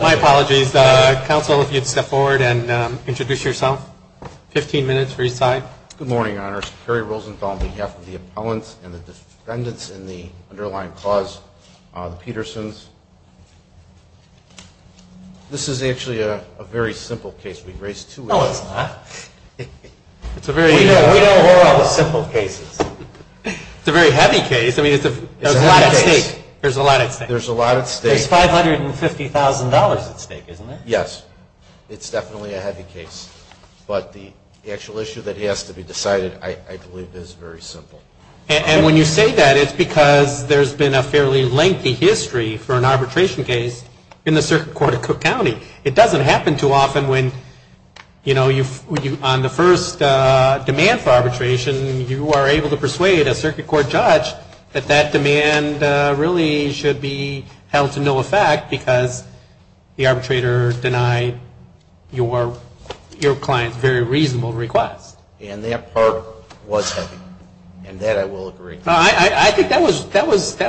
My apologies. Council, if you would step forward and introduce yourself. Fifteen minutes for your time. Good morning, Your Honors. Kerry Rosenthal on behalf of the appellants and the defendants in the underlying cause, the Petersons. This is actually a very simple case. We've raised two issues. No, it's not. It's a very simple case. It's a very heavy case. I mean, there's a lot at stake. There's $550,000 at stake, isn't there? Yes. It's definitely a heavy case. But the actual issue that has to be decided, I believe, is very simple. And when you say that, it's because there's been a fairly lengthy history for an arbitration case in the Circuit Court of Cook County. It doesn't happen too often when, you know, on the first demand for arbitration, you are able to persuade a circuit court judge that that demand really should be held to no effect because the arbitrator denied your client's very reasonable request. And that part was heavy. And that I will agree. I think that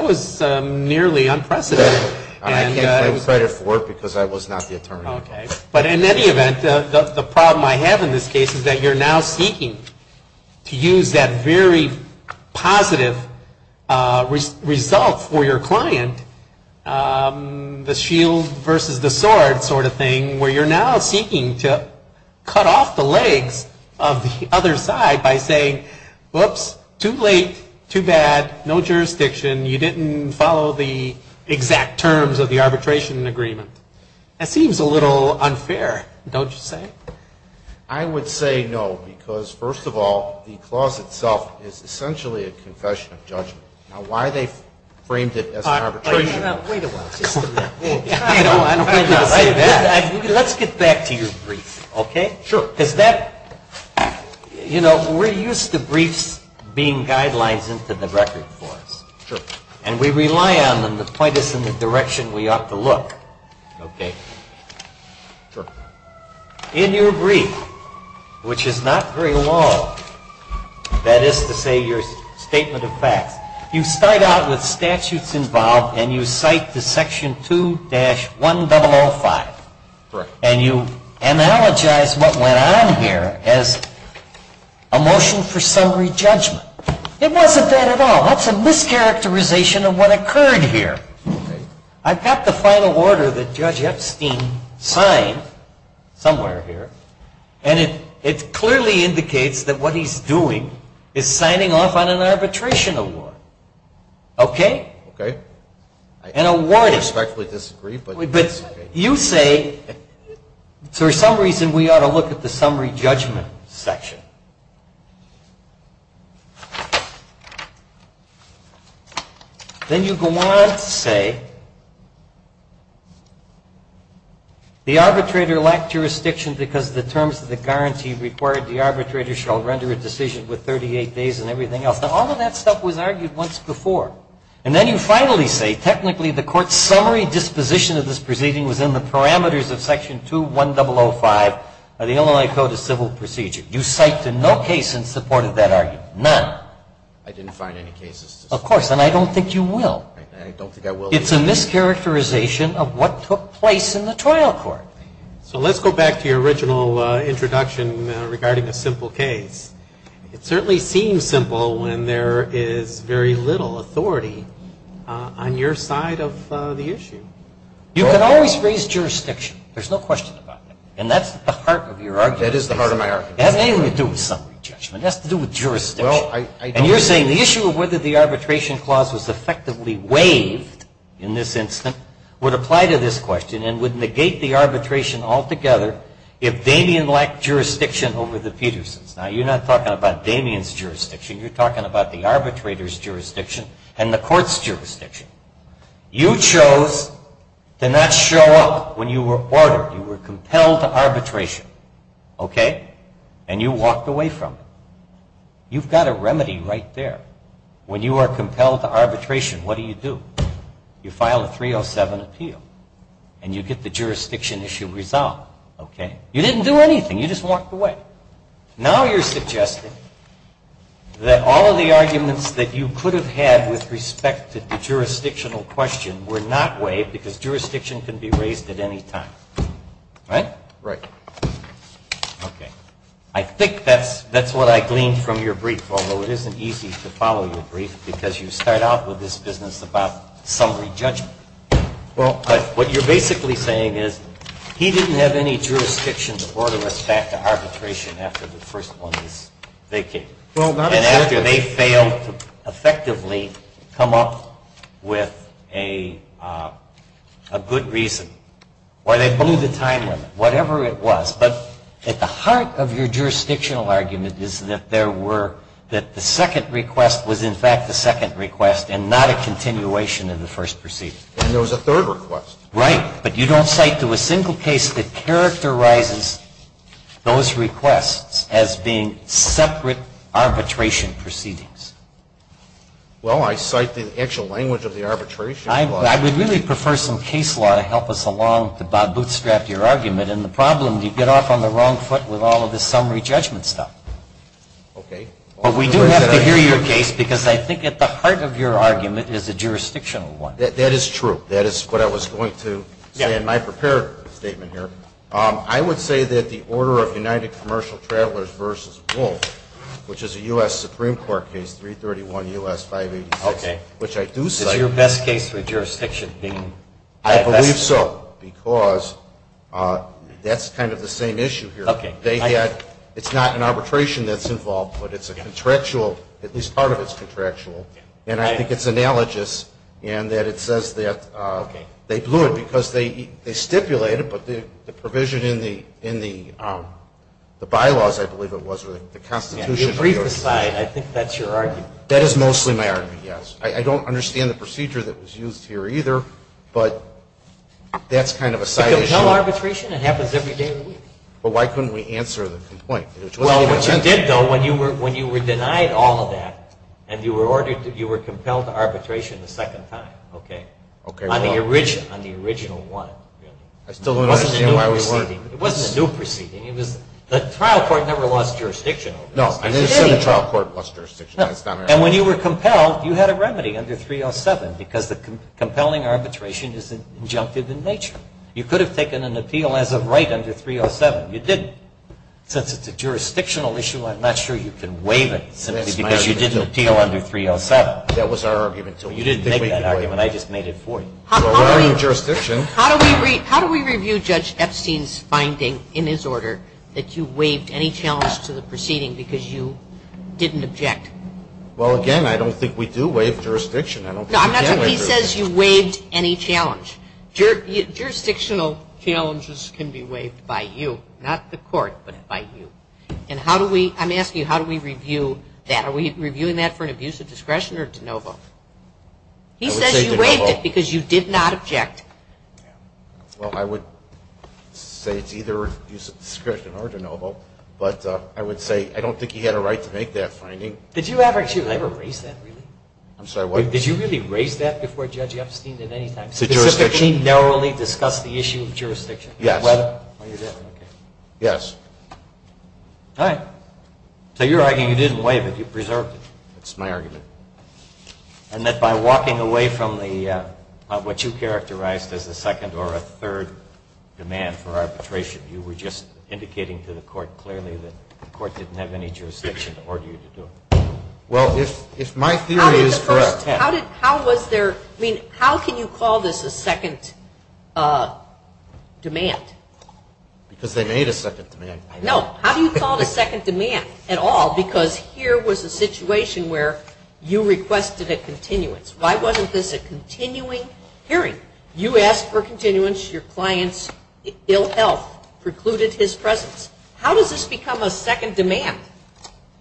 was nearly unprecedented. I can't claim credit for it because I was not the attorney involved. But in any event, the problem I have in this case is that you're now seeking to use that very positive result for your client, the shield versus the sword sort of thing, where you're now seeking to cut off the legs of the other side by saying, whoops, too late, too bad, no jurisdiction. You didn't follow the exact terms of the arbitration agreement. That seems a little unfair, don't you say? I would say no because, first of all, the clause itself is essentially a confession of judgment. Now, why they framed it as an arbitration. Wait a minute. Let's get back to your brief, okay? Sure. Because that, you know, we're used to briefs being guidelines into the record for us. Sure. And we rely on them to point us in the direction we ought to look, okay? Sure. In your brief, which is not very long, that is to say your statement of facts, you start out with statutes involved and you cite the section 2-1005. Correct. And you analogize what went on here as a motion for summary judgment. It wasn't that at all. That's a mischaracterization of what occurred here. I've got the final order that Judge Epstein signed somewhere here, and it clearly indicates that what he's doing is signing off on an arbitration award, okay? Okay. An award is... I respectfully disagree, but... You say, for some reason we ought to look at the summary judgment section. Then you go on to say, the arbitrator lacked jurisdiction because the terms of the guarantee required the arbitrator shall render a decision with 38 days and everything else. Now, all of that stuff was argued once before. And then you finally say, technically the court's summary disposition of this proceeding was in the parameters of section 2-1005 of the Illinois Code of Civil Procedure. You cited no case in support of that argument. None. I didn't find any cases. Of course, and I don't think you will. I don't think I will. It's a mischaracterization of what took place in the trial court. So let's go back to your original introduction regarding a simple case. It certainly seems simple when there is very little authority on your side of the issue. You can always raise jurisdiction. There's no question about that. And that's the heart of your argument. That is the heart of my argument. It has nothing to do with summary judgment. It has to do with jurisdiction. And you're saying the issue of whether the arbitration clause was effectively waived in this instance would apply to this question and would negate the arbitration altogether if Damien lacked jurisdiction over the Petersons. Now, you're not talking about Damien's jurisdiction. You're talking about the arbitrator's jurisdiction and the court's jurisdiction. You chose to not show up when you were ordered. You were compelled to arbitration. Okay? And you walked away from it. You've got a remedy right there. When you are compelled to arbitration, what do you do? You file a 307 appeal. And you get the jurisdiction issue resolved. Okay? You didn't do anything. You just walked away. Now you're suggesting that all of the arguments that you could have had with respect to the jurisdictional question were not waived because jurisdiction can be raised at any time. Right? Right. Okay. I think that's what I gleaned from your brief, although it isn't easy to follow your brief because you start out with this business about summary judgment. Well, what you're basically saying is he didn't have any jurisdiction to order respect to arbitration after the first one was vacated. And after they failed to effectively come up with a good reason, or they blew the time limit, whatever it was. But at the heart of your jurisdictional argument is that there were, that the second request was in fact the second request and not a continuation of the first proceeding. And there was a third request. Right. But you don't cite to a single case that characterizes those requests as being separate arbitration proceedings. Well, I cite the actual language of the arbitration law. I would really prefer some case law to help us along to bootstrap your argument. And the problem, you get off on the wrong foot with all of this summary judgment stuff. Okay. Well, we do have to hear your case because I think at the heart of your argument is a jurisdictional one. That is true. That is what I was going to say in my prepared statement here. I would say that the order of United Commercial Travelers v. Wolf, which is a U.S. Supreme Court case, 331 U.S. 586, which I do cite. Is your best case for jurisdiction being? I believe so because that's kind of the same issue here. Okay. They had, it's not an arbitration that's involved, but it's a contractual, at least part of it's contractual. And I think it's analogous in that it says that they blew it because they stipulated, but the provision in the bylaws, I believe it was, or the Constitution. Yeah, the brief aside, I think that's your argument. That is mostly my argument, yes. I don't understand the procedure that was used here either, but that's kind of a side issue. Because no arbitration, it happens every day of the week. But why couldn't we answer the complaint? Well, what you did though, when you were denied all of that and you were ordered to, you were compelled to arbitration the second time, okay? Okay. On the original one, really. I still don't understand why we weren't. It wasn't a new proceeding. It was, the trial court never lost jurisdiction over this. No, I didn't say the trial court lost jurisdiction. No. And when you were compelled, you had a remedy under 307 because the compelling arbitration is injunctive in nature. You could have taken an appeal as of right under 307. You didn't. Since it's a jurisdictional issue, I'm not sure you can waive it simply because you didn't appeal under 307. That was our argument. So you didn't make that argument. I just made it for you. How do we review Judge Epstein's finding in his order that you waived any challenge to the proceeding because you didn't object? Well, again, I don't think we do waive jurisdiction. I don't think we can waive jurisdiction. He says you waived any challenge. Jurisdictional challenges can be waived by you, not the court, but by you. And how do we, I'm asking you, how do we review that? Are we reviewing that for an abuse of discretion or de novo? I would say de novo. He says you waived it because you did not object. Well, I would say it's either abuse of discretion or de novo, but I would say I don't think he had a right to make that finding. Did you ever raise that, really? I'm sorry, what? Did you really raise that before Judge Epstein at any time? Specifically, narrowly discuss the issue of jurisdiction? Yes. Whether or not you did, I don't care. Yes. All right. So you're arguing you didn't waive it. You preserved it. That's my argument. And that by walking away from what you characterized as a second or a third demand for arbitration, you were just indicating to the court clearly that the court didn't have any jurisdiction to order you to do it. Well, if my theory is correct, yes. How did, how was there, I mean, how can you call this a second demand? Because they made a second demand. No. How do you call it a second demand at all? Because here was a situation where you requested a continuance. Why wasn't this a continuing hearing? You asked for continuance. Your client's ill health precluded his presence. How does this become a second demand?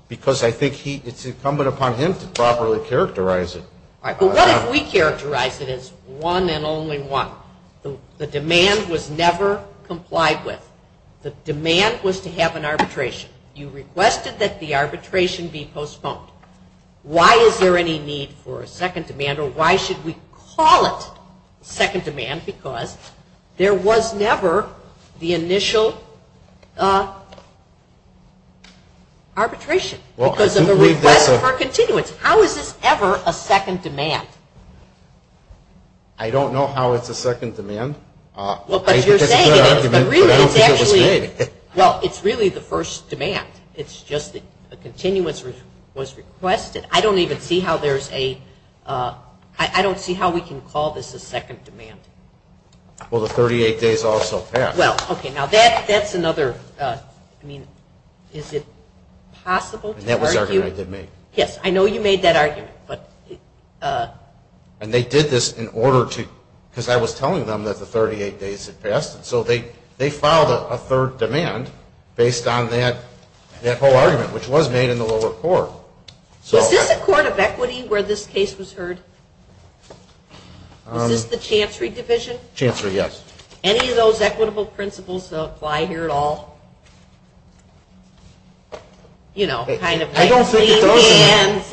Because I think he, it's incumbent upon him to properly characterize it. All right. But what if we characterize it as one and only one? The demand was never complied with. The demand was to have an arbitration. You requested that the arbitration be postponed. Why is there any need for a second demand or why should we call it second demand? Because there was never the initial arbitration because of the request for continuance. How is this ever a second demand? I don't know how it's a second demand. Well, but you're saying it is, but really it's actually, well, it's really the first demand. It's just that a continuance was requested. I don't even see how there's a, I don't see how we can call this a second demand. Well, the 38 days also passed. Well, okay. Now, that's another, I mean, is it possible to argue? And that was the argument I did make. Yes. I know you made that argument, but. And they did this in order to, because I was telling them that the 38 days had passed. So they filed a third demand based on that whole argument, which was made in the lower court. Was this a court of equity where this case was heard? Was this the Chancery Division? Chancery, yes. Any of those equitable principles apply here at all? You know, kind of. I don't think it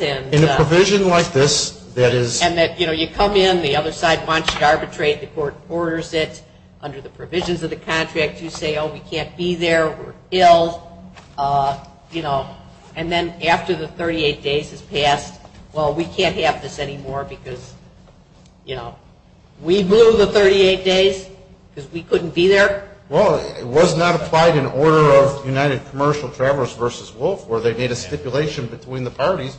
does. In a provision like this that is. And that, you know, you come in, the other side wants to arbitrate, the court orders it. Under the provisions of the contract, you say, oh, we can't be there, we're ill, you know. And then after the 38 days has passed, well, we can't have this anymore because, you know. We blew the 38 days because we couldn't be there? Well, it was not applied in order of United Commercial Travelers versus Wolf, where they made a stipulation between the parties.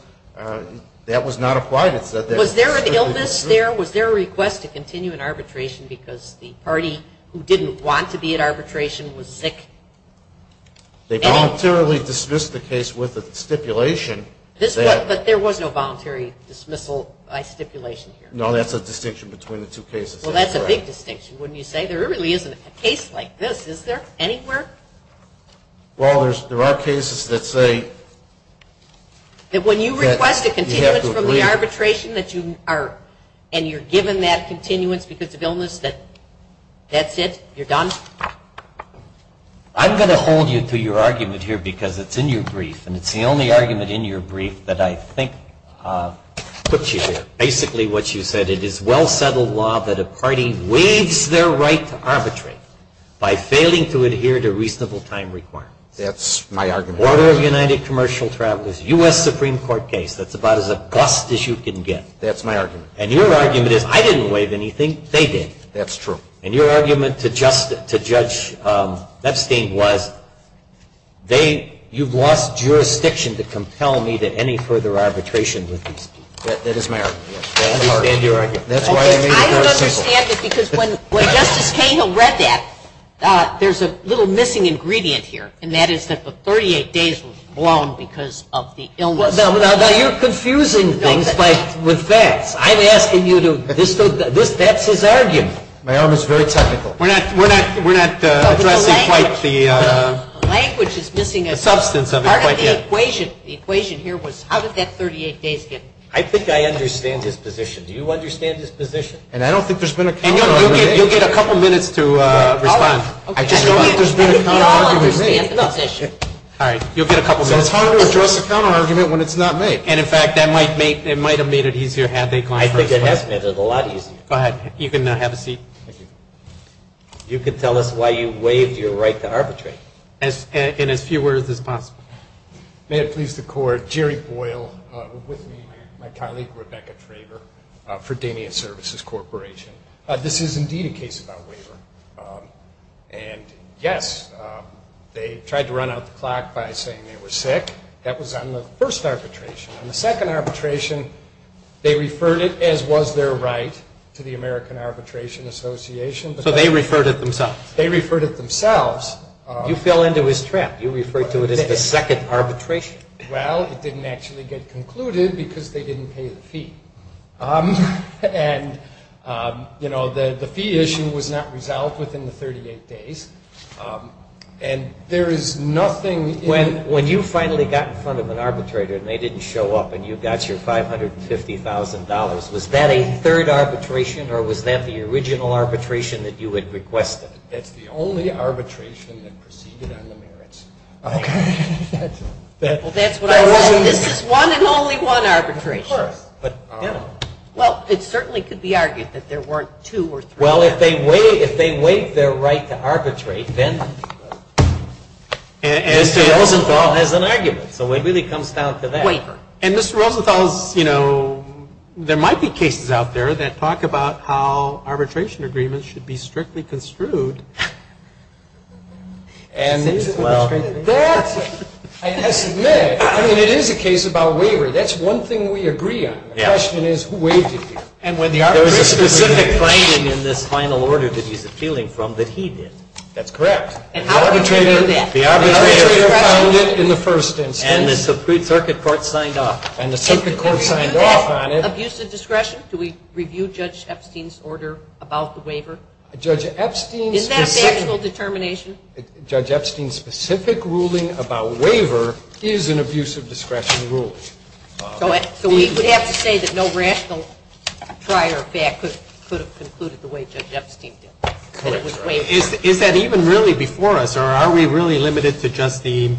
That was not applied. It said that. Was there an illness there? Was there a request to continue an arbitration because the party who didn't want to be at arbitration was sick? They voluntarily dismissed the case with a stipulation. But there was no voluntary dismissal by stipulation here? No, that's a distinction between the two cases. Well, that's a big distinction, wouldn't you say? There really isn't a case like this, is there? Anywhere? Well, there are cases that say. That when you request a continuance from the arbitration and you're given that continuance because of illness, that's it? You're done? I'm going to hold you to your argument here because it's in your brief. And it's the only argument in your brief that I think puts you here. Basically what you said, it is well settled law that a party waives their right to arbitrate by failing to adhere to reasonable time requirements. That's my argument. Order of the United Commercial Travelers, U.S. Supreme Court case, that's about as a bust as you can get. That's my argument. And your argument is, I didn't waive anything, they did. That's true. And your argument to Judge Epstein was, you've lost jurisdiction to compel me to any further arbitration with these people. That is my argument. I understand your argument. That's why I made it very simple. I don't understand it because when Justice Kagan read that, there's a little missing ingredient here. And that is that the 38 days were blown because of the illness. Now you're confusing things with facts. I'm asking you to, that's his argument. My arm is very technical. We're not addressing quite the substance of it quite yet. The equation here was, how did that 38 days get blown? I think I understand his position. And I don't think there's been a count on that. You'll get a couple minutes to respond. I just don't think there's been a counter argument made. All right, you'll get a couple minutes. So it's hard to address a counter argument when it's not made. And in fact, that might have made it easier had they gone first. I think it has made it a lot easier. Go ahead, you can have a seat. Thank you. You can tell us why you waived your right to arbitrate. In as few words as possible. May it please the Court, Jerry Boyle, with me, my colleague, Rebecca Traver, Fredenia Services Corporation. This is indeed a case about waiver. And yes, they tried to run out the clock by saying they were sick. That was on the first arbitration. On the second arbitration, they referred it as was their right to the American Arbitration Association. So they referred it themselves? They referred it themselves. You fell into his trap. You referred to it as the second arbitration. Well, it didn't actually get concluded because they didn't pay the fee. And, you know, the fee issue was not resolved within the 38 days. And there is nothing... When you finally got in front of an arbitrator and they didn't show up and you got your $550,000, was that a third arbitration or was that the original arbitration that you had requested? That's the only arbitration that proceeded on the merits. Okay. Well, that's what I said. This is one and only one arbitration. Of course. Well, it certainly could be argued that there weren't two or three. Well, if they waived their right to arbitrate, then... Mr. Rosenthal has an argument. So it really comes down to that. And, Mr. Rosenthal, you know, there might be cases out there that talk about how arbitration agreements should be strictly construed. And, well... I have to admit, I mean, it is a case about waiver. That's one thing we agree on. The question is who waived it here. And when the arbitrator... There was a specific finding in this final order that he's appealing from that he did. That's correct. And how did we know that? The arbitrator found it in the first instance. And the circuit court signed off. And the circuit court signed off on it. Abusive discretion? Do we review Judge Epstein's order about the waiver? Judge Epstein's... Is that a factual determination? Judge Epstein's specific ruling about waiver is an abusive discretion ruling. So we would have to say that no rational prior fact could have concluded the way Judge Epstein did. That it was waived. Is that even really before us? Or are we really limited to just the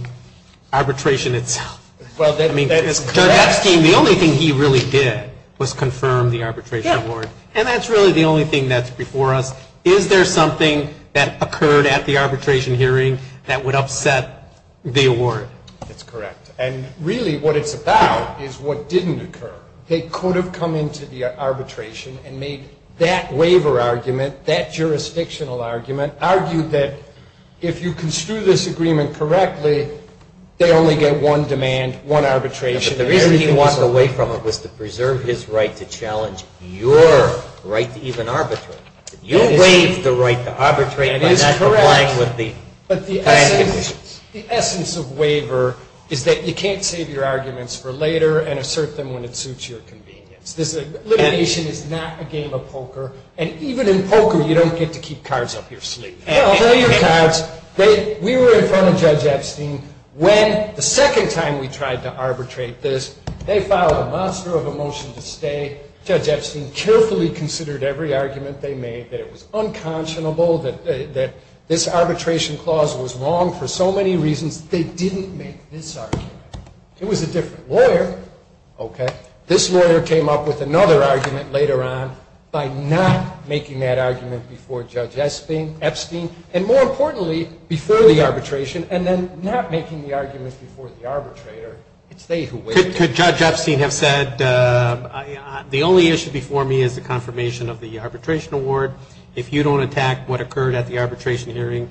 arbitration itself? Well, that is correct. Judge Epstein, the only thing he really did was confirm the arbitration award. And that's really the only thing that's before us. Is there something that occurred at the arbitration hearing that would upset the award? That's correct. And really what it's about is what didn't occur. They could have come into the arbitration and made that waiver argument, that jurisdictional argument, argued that if you construe this agreement correctly, they only get one demand, one arbitration. The reason he walked away from it was to preserve his right to challenge your right to even arbitrate. You waived the right to arbitrate by not complying with the plan conditions. But the essence of waiver is that you can't save your arguments for later and assert them when it suits your convenience. This litigation is not a game of poker. And even in poker, you don't get to keep cards up your sleeve. Well, they're your cards. We were in front of Judge Epstein when the second time we tried to arbitrate this, they filed a monster of a motion to stay. Judge Epstein carefully considered every argument they made, that it was unconscionable, that this arbitration clause was wrong for so many reasons. They didn't make this argument. It was a different lawyer. Okay. This lawyer came up with another argument later on by not making that argument before Judge Epstein. And more importantly, before the arbitration, and then not making the argument before the arbitrator. It's they who waived it. Could Judge Epstein have said, the only issue before me is the confirmation of the arbitration award. If you don't attack what occurred at the arbitration hearing,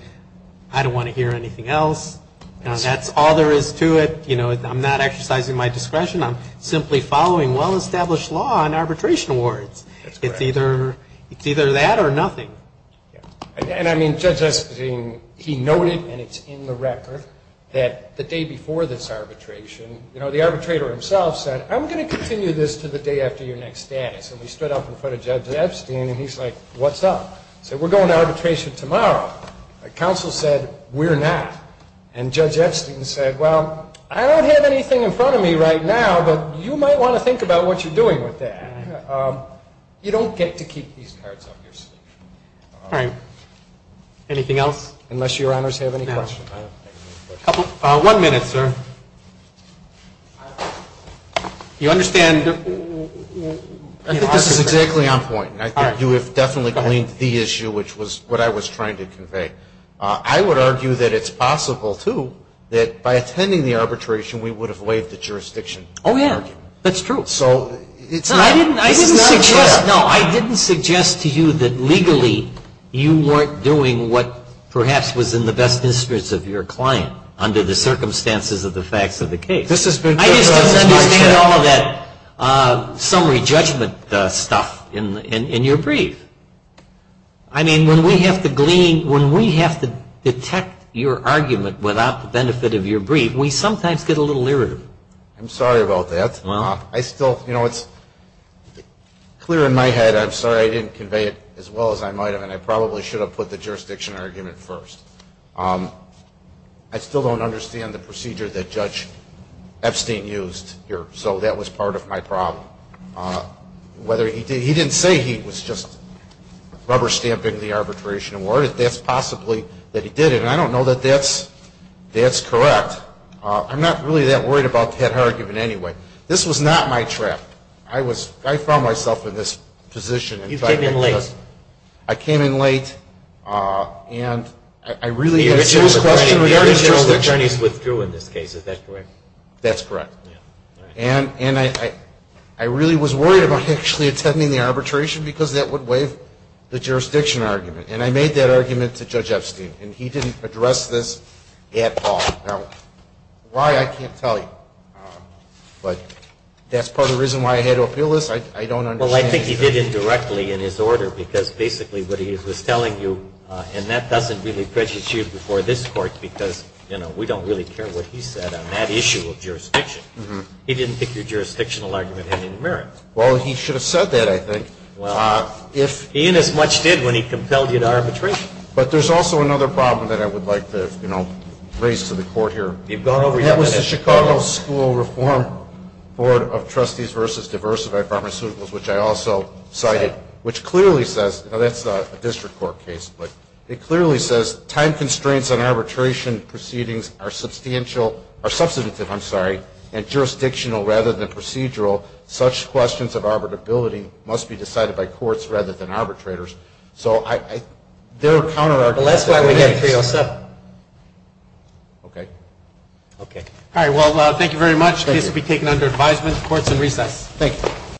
I don't want to hear anything else. That's all there is to it. You know, I'm not exercising my discretion. I'm simply following well-established law on arbitration awards. It's either that or nothing. And I mean, Judge Epstein, he noted, and it's in the record, that the day before this arbitration, you know, the arbitrator himself said, I'm going to continue this to the day after your next status. And we stood up in front of Judge Epstein, and he's like, what's up? Said, we're going to arbitration tomorrow. The counsel said, we're not. And Judge Epstein said, well, I don't have anything in front of me right now, but you might want to think about what you're doing with that. You don't get to keep these cards up your sleeve. All right. Anything else? Unless your honors have any questions. One minute, sir. You understand? I think this is exactly on point. I think you have definitely cleaned the issue, which was what I was trying to convey. I would argue that it's possible, too, that by attending the arbitration, we would have waived the jurisdiction. Oh, yeah. That's true. So it's not fair. No, I didn't suggest to you that legally, you weren't doing what perhaps was in the best interest of your client, under the circumstances of the facts of the case. This has been very much so. I just didn't understand all of that summary judgment stuff in your brief. I mean, when we have to glean, when we have to detect your argument without the benefit of your brief, we sometimes get a little irritable. I'm sorry about that. Well, I still, you know, it's clear in my head. I'm sorry I didn't convey it as well as I might have, and I probably should have put the jurisdiction argument first. I still don't understand the procedure that Judge Epstein used here, so that was part of my problem. Whether he did, he didn't say he was just rubber stamping the arbitration award. That's possibly that he did it, and I don't know that that's correct. I'm not really that worried about that argument anyway. This was not my trap. I was, I found myself in this position. You came in late. I came in late, and I really had a serious question. The original attorneys withdrew in this case. Is that correct? That's correct. And I really was worried about actually attending the arbitration, because that would waive the jurisdiction argument. And I made that argument to Judge Epstein, and he didn't address this at all. Now, why, I can't tell you. But that's part of the reason why I had to appeal this. I don't understand. Well, I think he did it directly in his order, because basically what he was telling you, and that doesn't really prejudice you before this court, because, you know, we don't really care what he said on that issue of jurisdiction. He didn't think your jurisdictional argument had any merit. Well, he should have said that, I think. He inasmuch did when he compelled you to arbitration. But there's also another problem that I would like to, you know, raise to the court here. You've gone over your minutes. That was the Chicago School Reform Board of Trustees versus Diversified Pharmaceuticals, which I also cited, which clearly says, now that's a district court case, but it clearly says, time constraints on arbitration proceedings are substantial, or substantive, I'm sorry, and jurisdictional rather than procedural. Such questions of arbitrability must be decided by courts rather than arbitrators. So I, there are counter-arguments. But that's why we have 307. Okay. Okay. All right, well, thank you very much. Thank you. The case will be taken under advisement. The court is in recess. Thank you.